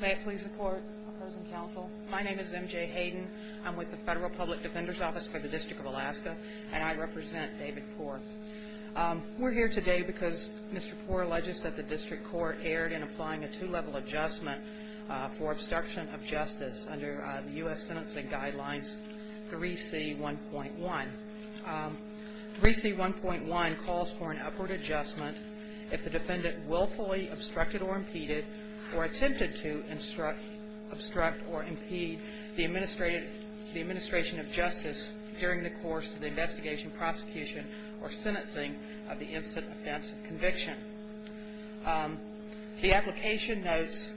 May it please the court, opposing counsel. My name is MJ Hayden. I'm with the Federal Public Defender's Office for the District of Alaska, and I represent David Puher. We're here today because Mr. Puher alleges that the District Court erred in applying a two-level adjustment for obstruction of justice under U.S. Sentencing Guidelines 3C1.1. 3C1.1 calls for an upward adjustment if the defendant willfully obstructed or impeded or attempted to obstruct or impede the administration of justice during the course of the investigation, prosecution, or sentencing of the incident, offense, or conviction. The application notes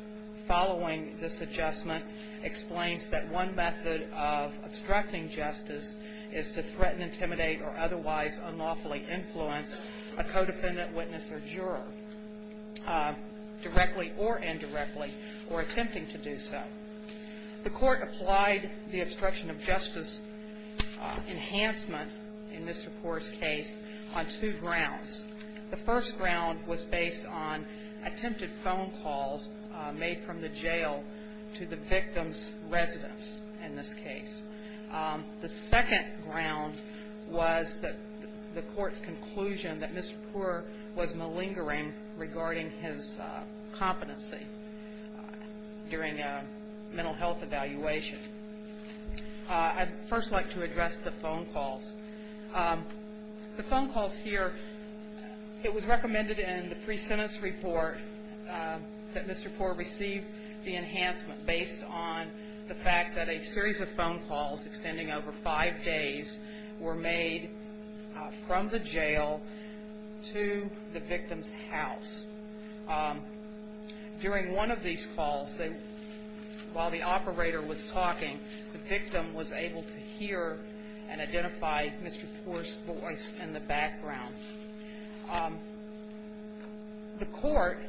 following this adjustment explains that one method of obstructing justice is to threaten, intimidate, or otherwise unlawfully influence a co-defendant, witness, or juror directly or indirectly or attempting to do so. The court applied the obstruction of justice enhancement in Mr. Puher's case on two grounds. The first ground was based on attempted phone calls made from the jail to the victim's residence in this case. The second ground was the court's conclusion that Mr. Puher was malingering regarding his competency during a mental health evaluation. I'd first like to address the phone calls. The phone calls here, it was recommended in the pre-sentence report that Mr. Puher receive the enhancement based on the fact that a series of phone calls extending over five days were made from the jail to the victim's house. During one of these calls, while the operator was talking, the victim was able to hear and identify Mr. Puher's voice in the background. The court,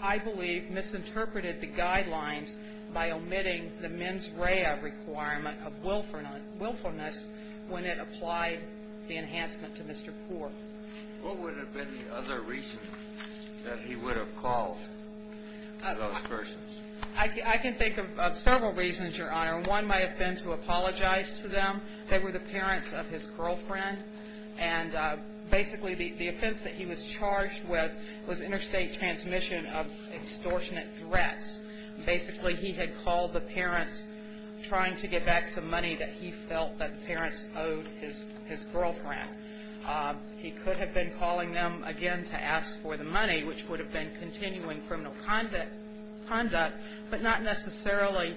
I believe, misinterpreted the guidelines by omitting the mens rea requirement of willfulness when it applied the enhancement to Mr. Puher. What would have been the other reason that he would have called those persons? He could have been calling them, again, to ask for the money, which would have been continuing criminal conduct, but not necessarily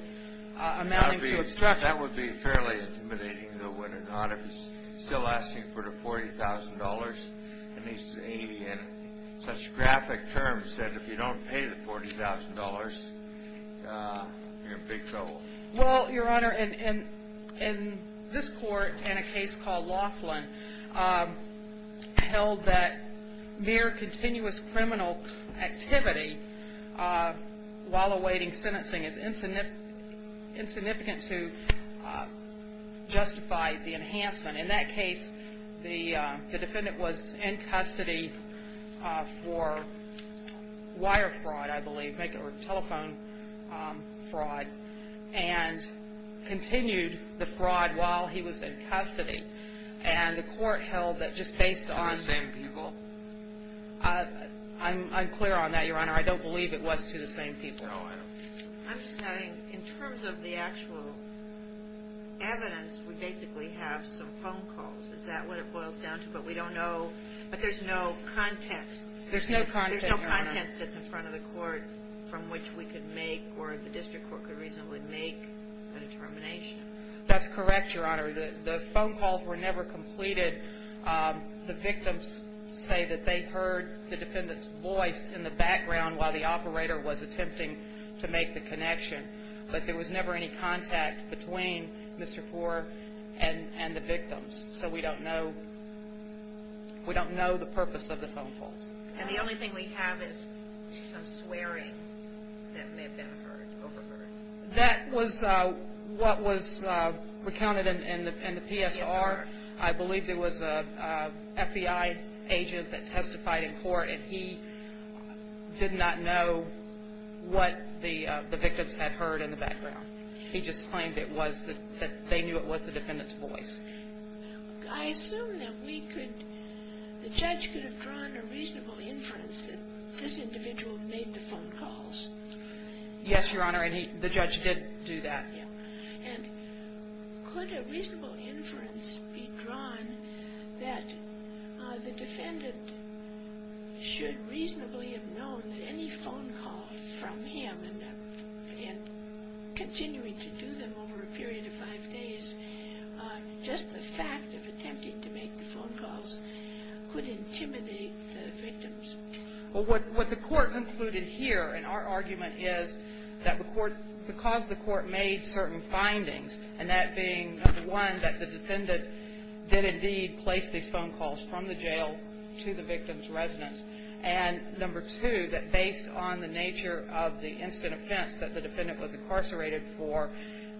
amounting to obstruction. That would be fairly intimidating, though, wouldn't it not? If he's still asking for the $40,000, and he's saying it in such graphic terms that if you don't pay the $40,000, you're in big trouble. Well, Your Honor, in this court, in a case called Laughlin, held that mere continuous criminal activity while awaiting sentencing is insignificant to justify the enhancement. In that case, the defendant was in custody for wire fraud, I believe, or telephone fraud, and continued the fraud while he was in custody. And the court held that just based on... To the same people? I'm clear on that, Your Honor. I don't believe it was to the same people. I'm just saying, in terms of the actual evidence, we basically have some phone calls. Is that what it boils down to? But we don't know... But there's no content. There's no content, Your Honor. There's no content that's in front of the court from which we could make, or the district court could reasonably make, a determination. That's correct, Your Honor. The phone calls were never completed. The victims say that they heard the defendant's voice in the background while the operator was attempting to make the connection, but there was never any contact between Mr. Ford and the victims. So we don't know... We don't know the purpose of the phone calls. And the only thing we have is some swearing that may have been heard, overheard. That was what was recounted in the PSR. I believe there was an FBI agent that testified in court, and he did not know what the victims had heard in the background. He just claimed that they knew it was the defendant's voice. I assume that we could... The judge could have drawn a reasonable inference that this individual made the phone calls. Yes, Your Honor, and the judge did do that. And could a reasonable inference be drawn that the defendant should reasonably have known that any phone call from him, and again, continuing to do them over a period of five days, just the fact of attempting to make the phone calls could intimidate the victims? Well, what the court concluded here in our argument is that because the court made certain findings, and that being, number one, that the defendant did indeed place these phone calls from the jail to the victim's residence, and number two, that based on the nature of the instant offense that the defendant was incarcerated for,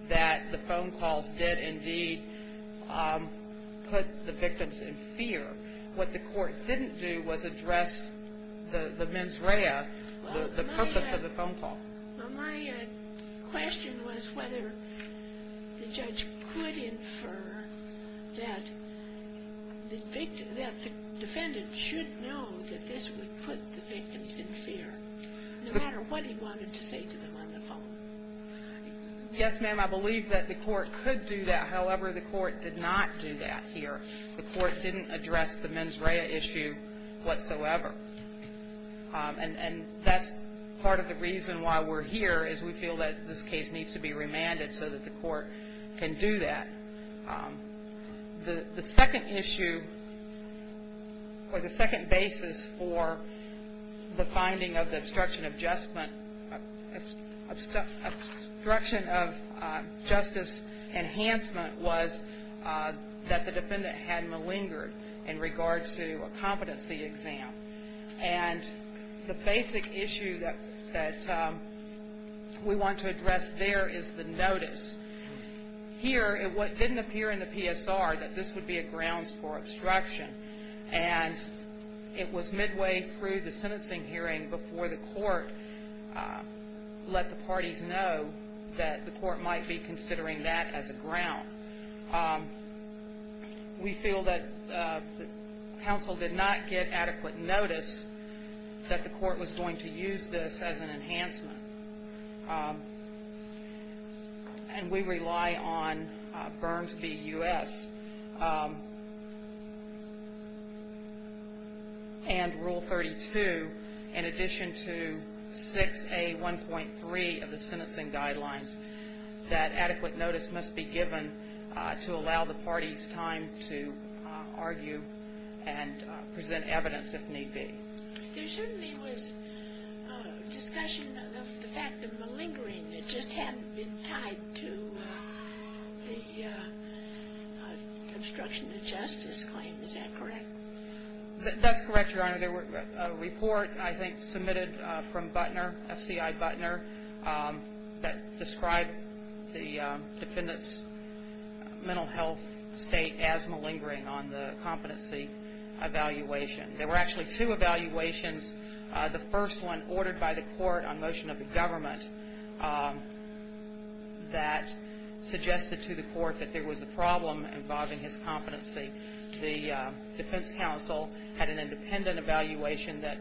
that the phone calls did indeed put the victims in fear. What the court didn't do was address the mens rea, the purpose of the phone call. Well, my question was whether the judge could infer that the defendant should know that this would put the victims in fear, no matter what he wanted to say to them on the phone. Yes, ma'am, I believe that the court could do that. However, the court did not do that here. The court didn't address the mens rea issue whatsoever. And that's part of the reason why we're here, is we feel that this case needs to be remanded so that the court can do that. The second issue, or the second basis for the finding of the obstruction of adjustment, obstruction of justice enhancement was that the defendant had malingered in regards to a competency exam. And the basic issue that we want to address there is the notice. Here, it didn't appear in the PSR that this would be a grounds for obstruction. And it was midway through the sentencing hearing before the court let the parties know that the court might be considering that as a ground. We feel that the counsel did not get adequate notice that the court was going to use this as an enhancement. And we rely on Burns v. U.S. and Rule 32, in addition to 6A1.3 of the sentencing guidelines, that adequate notice must be given to allow the parties time to argue and present evidence if need be. There certainly was discussion of the fact of malingering. It just hadn't been tied to the obstruction of justice claim. Is that correct? That's correct, Your Honor. There was a report, I think, submitted from Butner, SCI Butner, that described the defendant's mental health state as malingering on the competency evaluation. There were actually two evaluations. The first one ordered by the court on motion of the government that suggested to the court that there was a problem involving his competency. The defense counsel had an independent evaluation that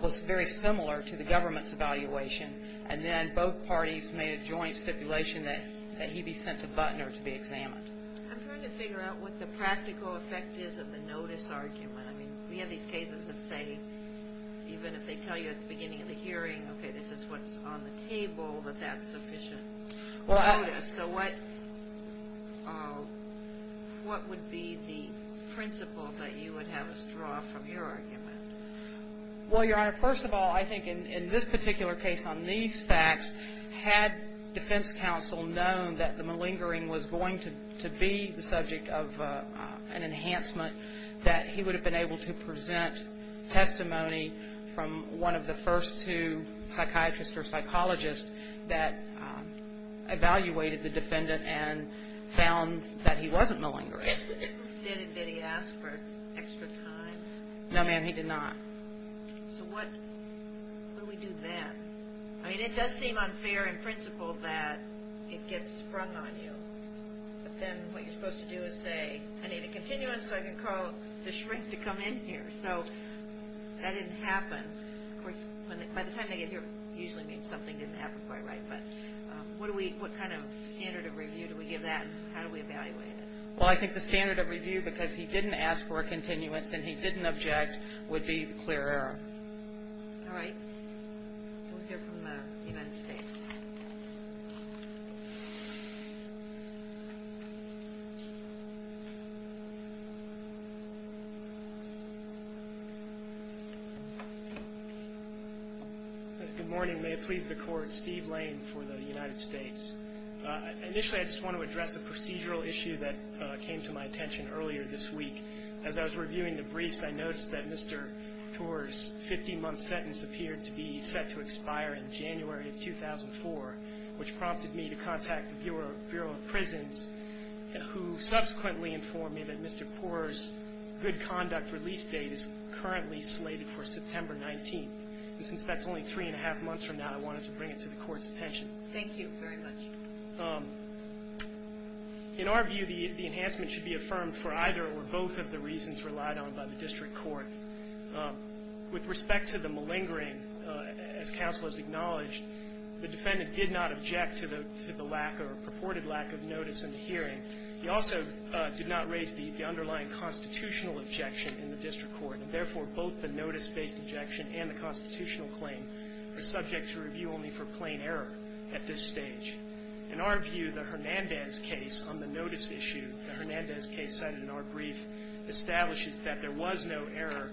was very similar to the government's evaluation. And then both parties made a joint stipulation that he be sent to Butner to be examined. I'm trying to figure out what the practical effect is of the notice argument. I mean, we have these cases that say, even if they tell you at the beginning of the hearing, okay, this is what's on the table, that that's sufficient notice. So what would be the principle that you would have us draw from your argument? Well, Your Honor, first of all, I think in this particular case on these facts, had defense counsel known that the malingering was going to be the subject of an enhancement, that he would have been able to present testimony from one of the first two psychiatrists or psychologists that evaluated the defendant and found that he wasn't malingering. Did he ask for extra time? No, ma'am, he did not. So what do we do then? I mean, it does seem unfair in principle that it gets sprung on you. But then what you're supposed to do is say, I need a continuance so I can call the shrink to come in here. So that didn't happen. Of course, by the time they get here, it usually means something didn't happen quite right. But what kind of standard of review do we give that and how do we evaluate it? Well, I think the standard of review, because he didn't ask for a continuance and he didn't object, would be clear error. All right. We'll hear from the United States. Good morning. May it please the Court. Steve Lane for the United States. Initially, I just want to address a procedural issue that came to my attention earlier this week. As I was reviewing the briefs, I noticed that Mr. Poorer's 50-month sentence appeared to be set to expire in January of 2004, which prompted me to contact the Bureau of Prisons, who subsequently informed me that Mr. Poorer's good conduct release date is currently slated for September 19th. And since that's only three and a half months from now, I wanted to bring it to the Court's attention. Thank you very much. In our view, the enhancement should be affirmed for either or both of the reasons relied on by the district court. With respect to the malingering, as counsel has acknowledged, the defendant did not object to the lack or purported lack of notice in the hearing. He also did not raise the underlying constitutional objection in the district court, and therefore, both the notice-based objection and the constitutional claim are subject to review only for plain error at this stage. In our view, the Hernandez case on the notice issue, the Hernandez case cited in our brief, establishes that there was no error,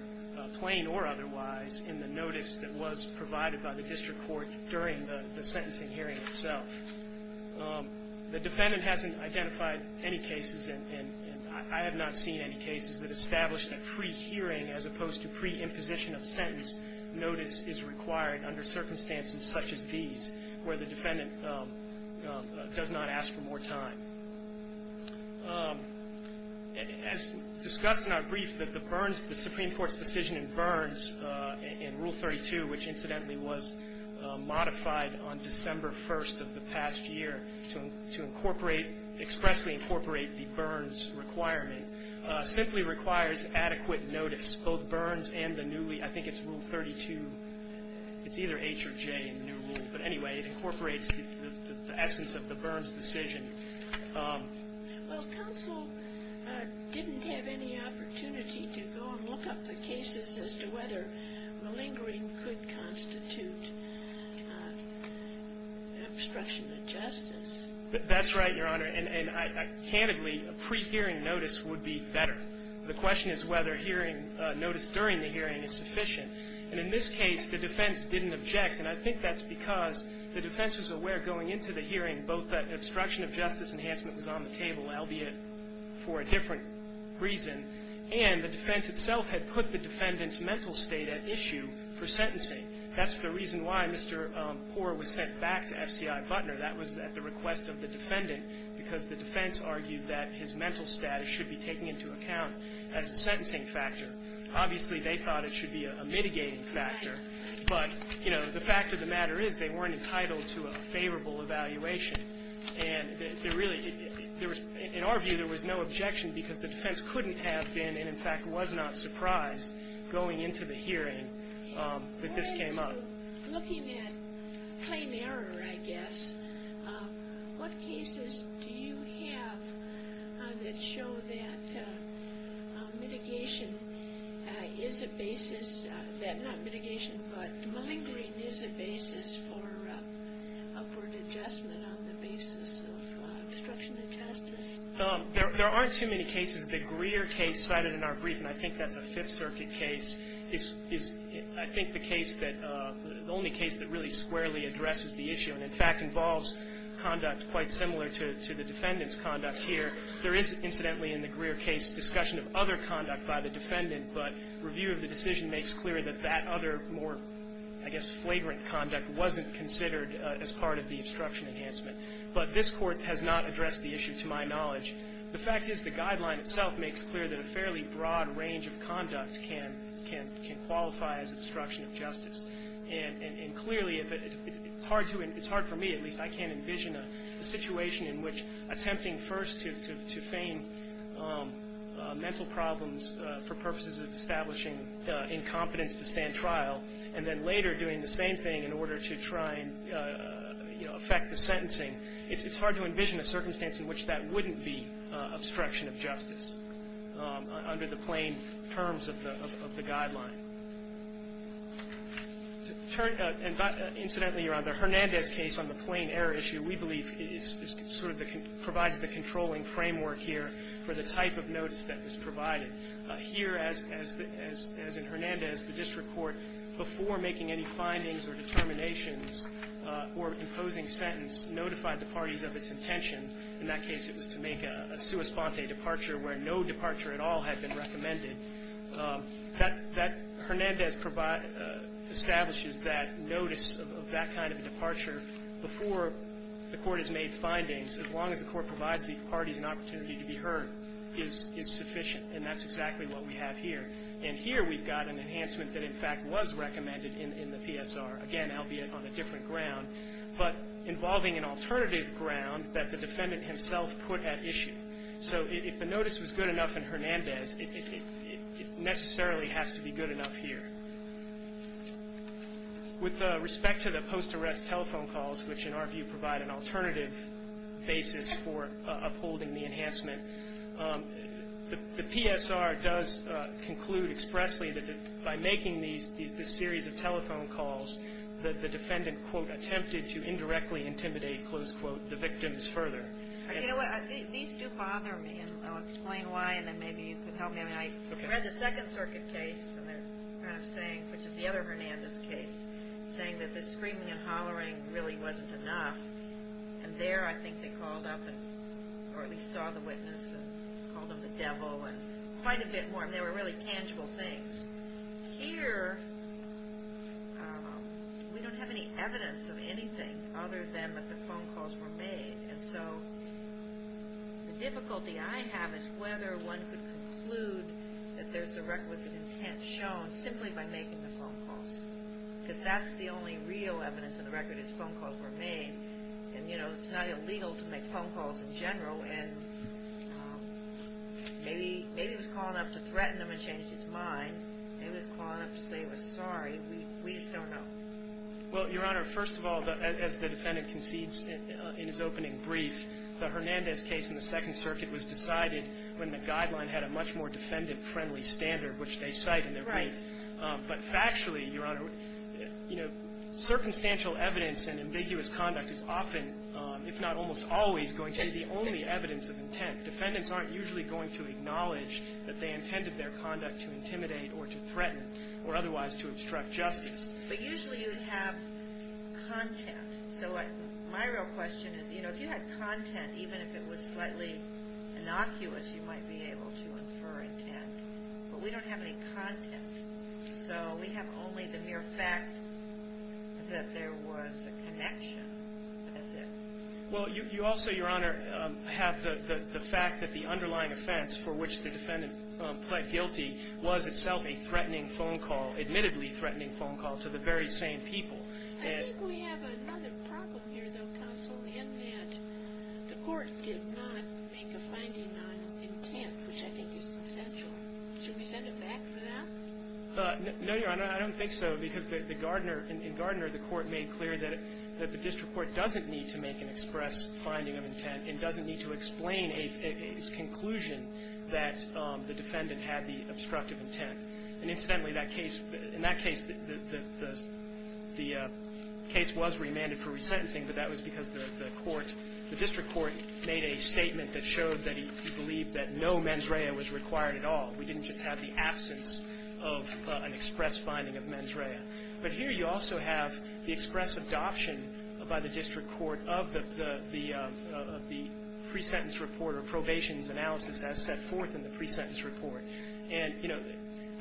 plain or otherwise, in the notice that was provided by the district court during the sentencing hearing itself. The defendant hasn't identified any cases, and I have not seen any cases that establish that pre-hearing, as opposed to pre-imposition of sentence, notice is required under circumstances such as these, where the defendant does not ask for more time. As discussed in our brief, the Supreme Court's decision in Burns in Rule 32, which incidentally was modified on December 1st of the past year to expressly incorporate the Burns requirement, simply requires adequate notice, both Burns and the newly, I think it's Rule 32, it's either H or J in the new rule, but anyway, it incorporates the essence of the Burns decision. Well, counsel didn't have any opportunity to go and look up the cases as to whether malingering could constitute obstruction of justice. That's right, Your Honor. And candidly, a pre-hearing notice would be better. The question is whether hearing notice during the hearing is sufficient. And in this case, the defense didn't object, and I think that's because the defense was aware going into the hearing, both that obstruction of justice enhancement was on the table, albeit for a different reason, and the defense itself had put the defendant's mental state at issue for sentencing. That's the reason why Mr. Poore was sent back to F.C.I. Butner. That was at the request of the defendant, because the defense argued that his mental status should be taken into account as a sentencing factor. Obviously, they thought it should be a mitigating factor, but the fact of the matter is they weren't entitled to a favorable evaluation. And in our view, there was no objection because the defense couldn't have been, and in fact was not surprised going into the hearing that this came up. Looking at claim error, I guess, what cases do you have that show that malingering is a basis for an adjustment on the basis of obstruction of justice? There aren't too many cases. The Greer case cited in our brief, and I think that's a Fifth Circuit case, is, I think, the case that the only case that really squarely addresses the issue and, in fact, involves conduct quite similar to the defendant's conduct here. There is, incidentally, in the Greer case, discussion of other conduct by the defendant, but review of the decision makes clear that that other more, I guess, flagrant conduct wasn't considered as part of the obstruction enhancement. But this Court has not addressed the issue, to my knowledge. The fact is the guideline itself makes clear that a fairly broad range of conduct can qualify as obstruction of justice. And clearly, it's hard for me, at least, I can't envision a situation in which attempting first to feign mental problems for purposes of establishing incompetence to stand trial, and then later doing the same thing in order to try and affect the sentencing, it's hard to envision a circumstance in which that wouldn't be obstruction of justice under the plain terms of the guideline. Incidentally, around the Hernandez case on the plain error issue, we believe it sort of provides the controlling framework here for the type of notice that is provided. Here, as in Hernandez, the District Court, before making any findings or determinations or imposing sentence, notified the parties of its intention. In that case, it was to make a sua sponte departure where no departure at all had been recommended. That Hernandez establishes that notice of that kind of departure before the Court has made findings, as long as the Court provides the parties an opportunity to be heard, is sufficient. And that's exactly what we have here. And here, we've got an enhancement that, in fact, was recommended in the PSR, again, albeit on a different ground, but involving an alternative ground that the defendant himself put at issue. So if the notice was good enough in Hernandez, it necessarily has to be good enough here. With respect to the post-arrest telephone calls, which in our view provide an alternative basis for upholding the enhancement, the PSR does conclude expressly that by making these series of telephone calls, the defendant, quote, attempted to indirectly intimidate, close quote, the victims further. You know what? These do bother me, and I'll explain why, and then maybe you can help me. I read the Second Circuit case, which is the other Hernandez case, saying that the screaming and hollering really wasn't enough. And there, I think they called up, or at least saw the witness, and called him the devil, and quite a bit more. And they were really tangible things. Here, we don't have any evidence of anything other than that the phone calls were made. And so the difficulty I have is whether one could conclude that there's the requisite intent shown simply by making the phone calls. Because that's the only real evidence on the record is phone calls were made. And, you know, it's not illegal to make phone calls in general. And maybe he was calling up to threaten him and change his mind. Maybe he was calling up to say he was sorry. We just don't know. Well, Your Honor, first of all, as the defendant concedes in his opening brief, the Hernandez case in the Second Circuit was decided when the guideline had a much more defendant-friendly standard, which they cite in their brief. Right. But factually, Your Honor, you know, circumstantial evidence and ambiguous conduct is often, if not almost always, going to be the only evidence of intent. Defendants aren't usually going to acknowledge that they intended their conduct to intimidate or to threaten or otherwise to obstruct justice. But usually you'd have content. So my real question is, you know, if you had content, even if it was slightly innocuous, you might be able to infer intent. But we don't have any content. So we have only the mere fact that there was a connection. That's it. Well, you also, Your Honor, have the fact that the underlying offense for which the defendant pled guilty was itself a threatening phone call, admittedly threatening phone call, to the very same people. I think we have another problem here, though, counsel, in that the Court did not make a finding on intent, which I think is essential. Should we send it back for that? No, Your Honor. I don't think so, because in Gardner, the Court made clear that the district court doesn't need to make an express finding of intent and doesn't need to explain its conclusion that the defendant had the obstructive intent. And incidentally, in that case, the case was remanded for resentencing, but that was because the court, the district court made a statement that showed that he believed that no mens rea was required at all. We didn't just have the absence of an express finding of mens rea. But here you also have the express adoption by the district court of the pre-sentence report or probation's analysis as set forth in the pre-sentence report. And, you know,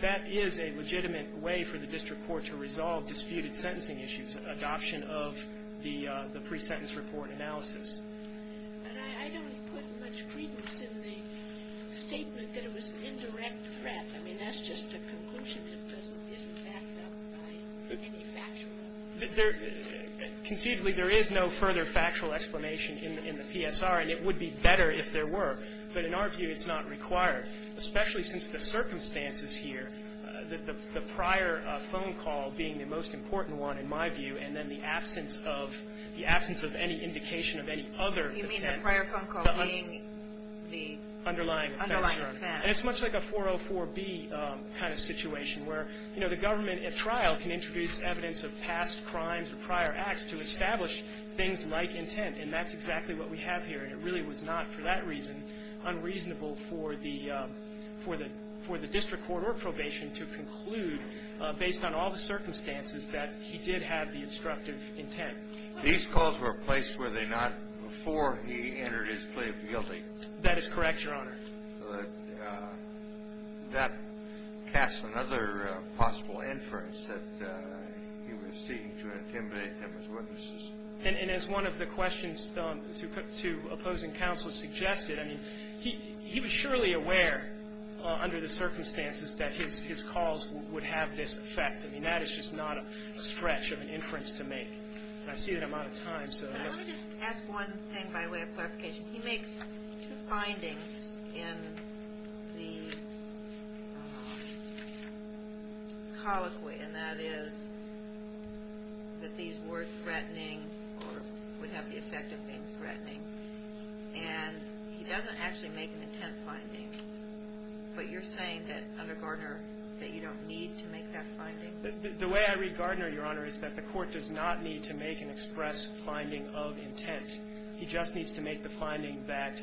that is a legitimate way for the district court to resolve disputed sentencing issues, such as adoption of the pre-sentence report analysis. But I don't put much credence in the statement that it was an indirect threat. I mean, that's just a conclusion. It isn't backed up by any factual evidence. Conceivably, there is no further factual explanation in the PSR, and it would be better if there were. But in our view, it's not required, especially since the circumstances here, the prior phone call being the most important one, in my view, and then the absence of any indication of any other intent. You mean the prior phone call being the underlying offense. And it's much like a 404B kind of situation where, you know, the government at trial can introduce evidence of past crimes or prior acts to establish things like intent, and that's exactly what we have here. And it really was not, for that reason, unreasonable for the district court or probation to conclude, based on all the circumstances, that he did have the obstructive intent. These calls were placed, were they not, before he entered his plea of guilty? That is correct, Your Honor. That casts another possible inference that he was seeking to intimidate them as witnesses. And as one of the questions to opposing counsel suggested, I mean, he was surely aware under the circumstances that his calls would have this effect. I mean, that is just not a stretch of an inference to make. And I see that I'm out of time, so. Let me just ask one thing by way of clarification. He makes two findings in the colloquy, and that is that these were threatening or would have the effect of being threatening. And he doesn't actually make an intent finding. But you're saying that, under Gardner, that you don't need to make that finding? The way I read Gardner, Your Honor, is that the court does not need to make an express finding of intent. He just needs to make the finding that,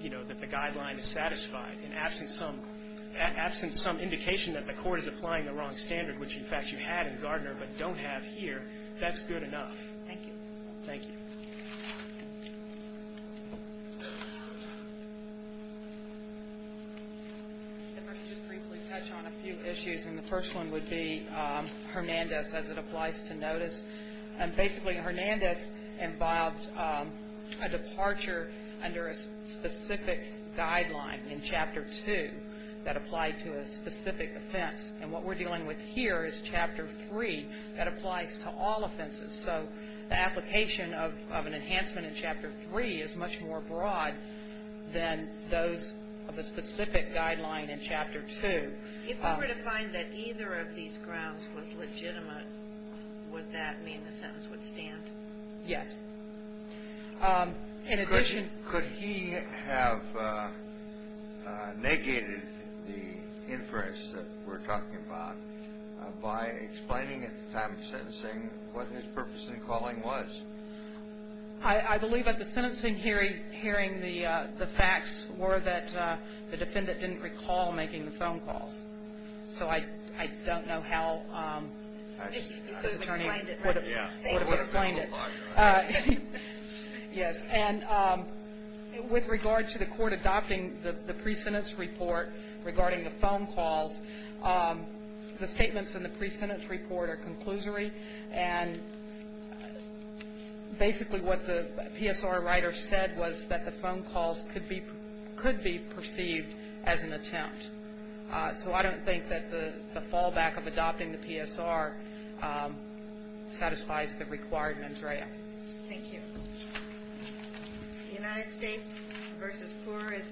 you know, that the guideline is satisfied. And absent some indication that the court is applying the wrong standard, which, in fact, you had in Gardner but don't have here, that's good enough. Thank you. Thank you. If I could just briefly touch on a few issues, and the first one would be Hernandez as it applies to notice. And basically Hernandez involved a departure under a specific guideline in Chapter 2 that applied to a specific offense. And what we're dealing with here is Chapter 3 that applies to all offenses. So the application of an enhancement in Chapter 3 is much more broad than those of a specific guideline in Chapter 2. If I were to find that either of these grounds was legitimate, would that mean the sentence would stand? Yes. Could he have negated the inference that we're talking about by explaining at the time of sentencing what his purpose in calling was? I believe at the sentencing hearing the facts were that the defendant didn't recall making the phone calls. So I don't know how his attorney would have explained it. And with regard to the court adopting the pre-sentence report regarding the phone calls, the statements in the pre-sentence report are conclusory, and basically what the PSR writer said was that the phone calls could be perceived as an attempt. So I don't think that the fallback of adopting the PSR satisfies the required mendrea. Thank you. The United States v. Poor is submitted.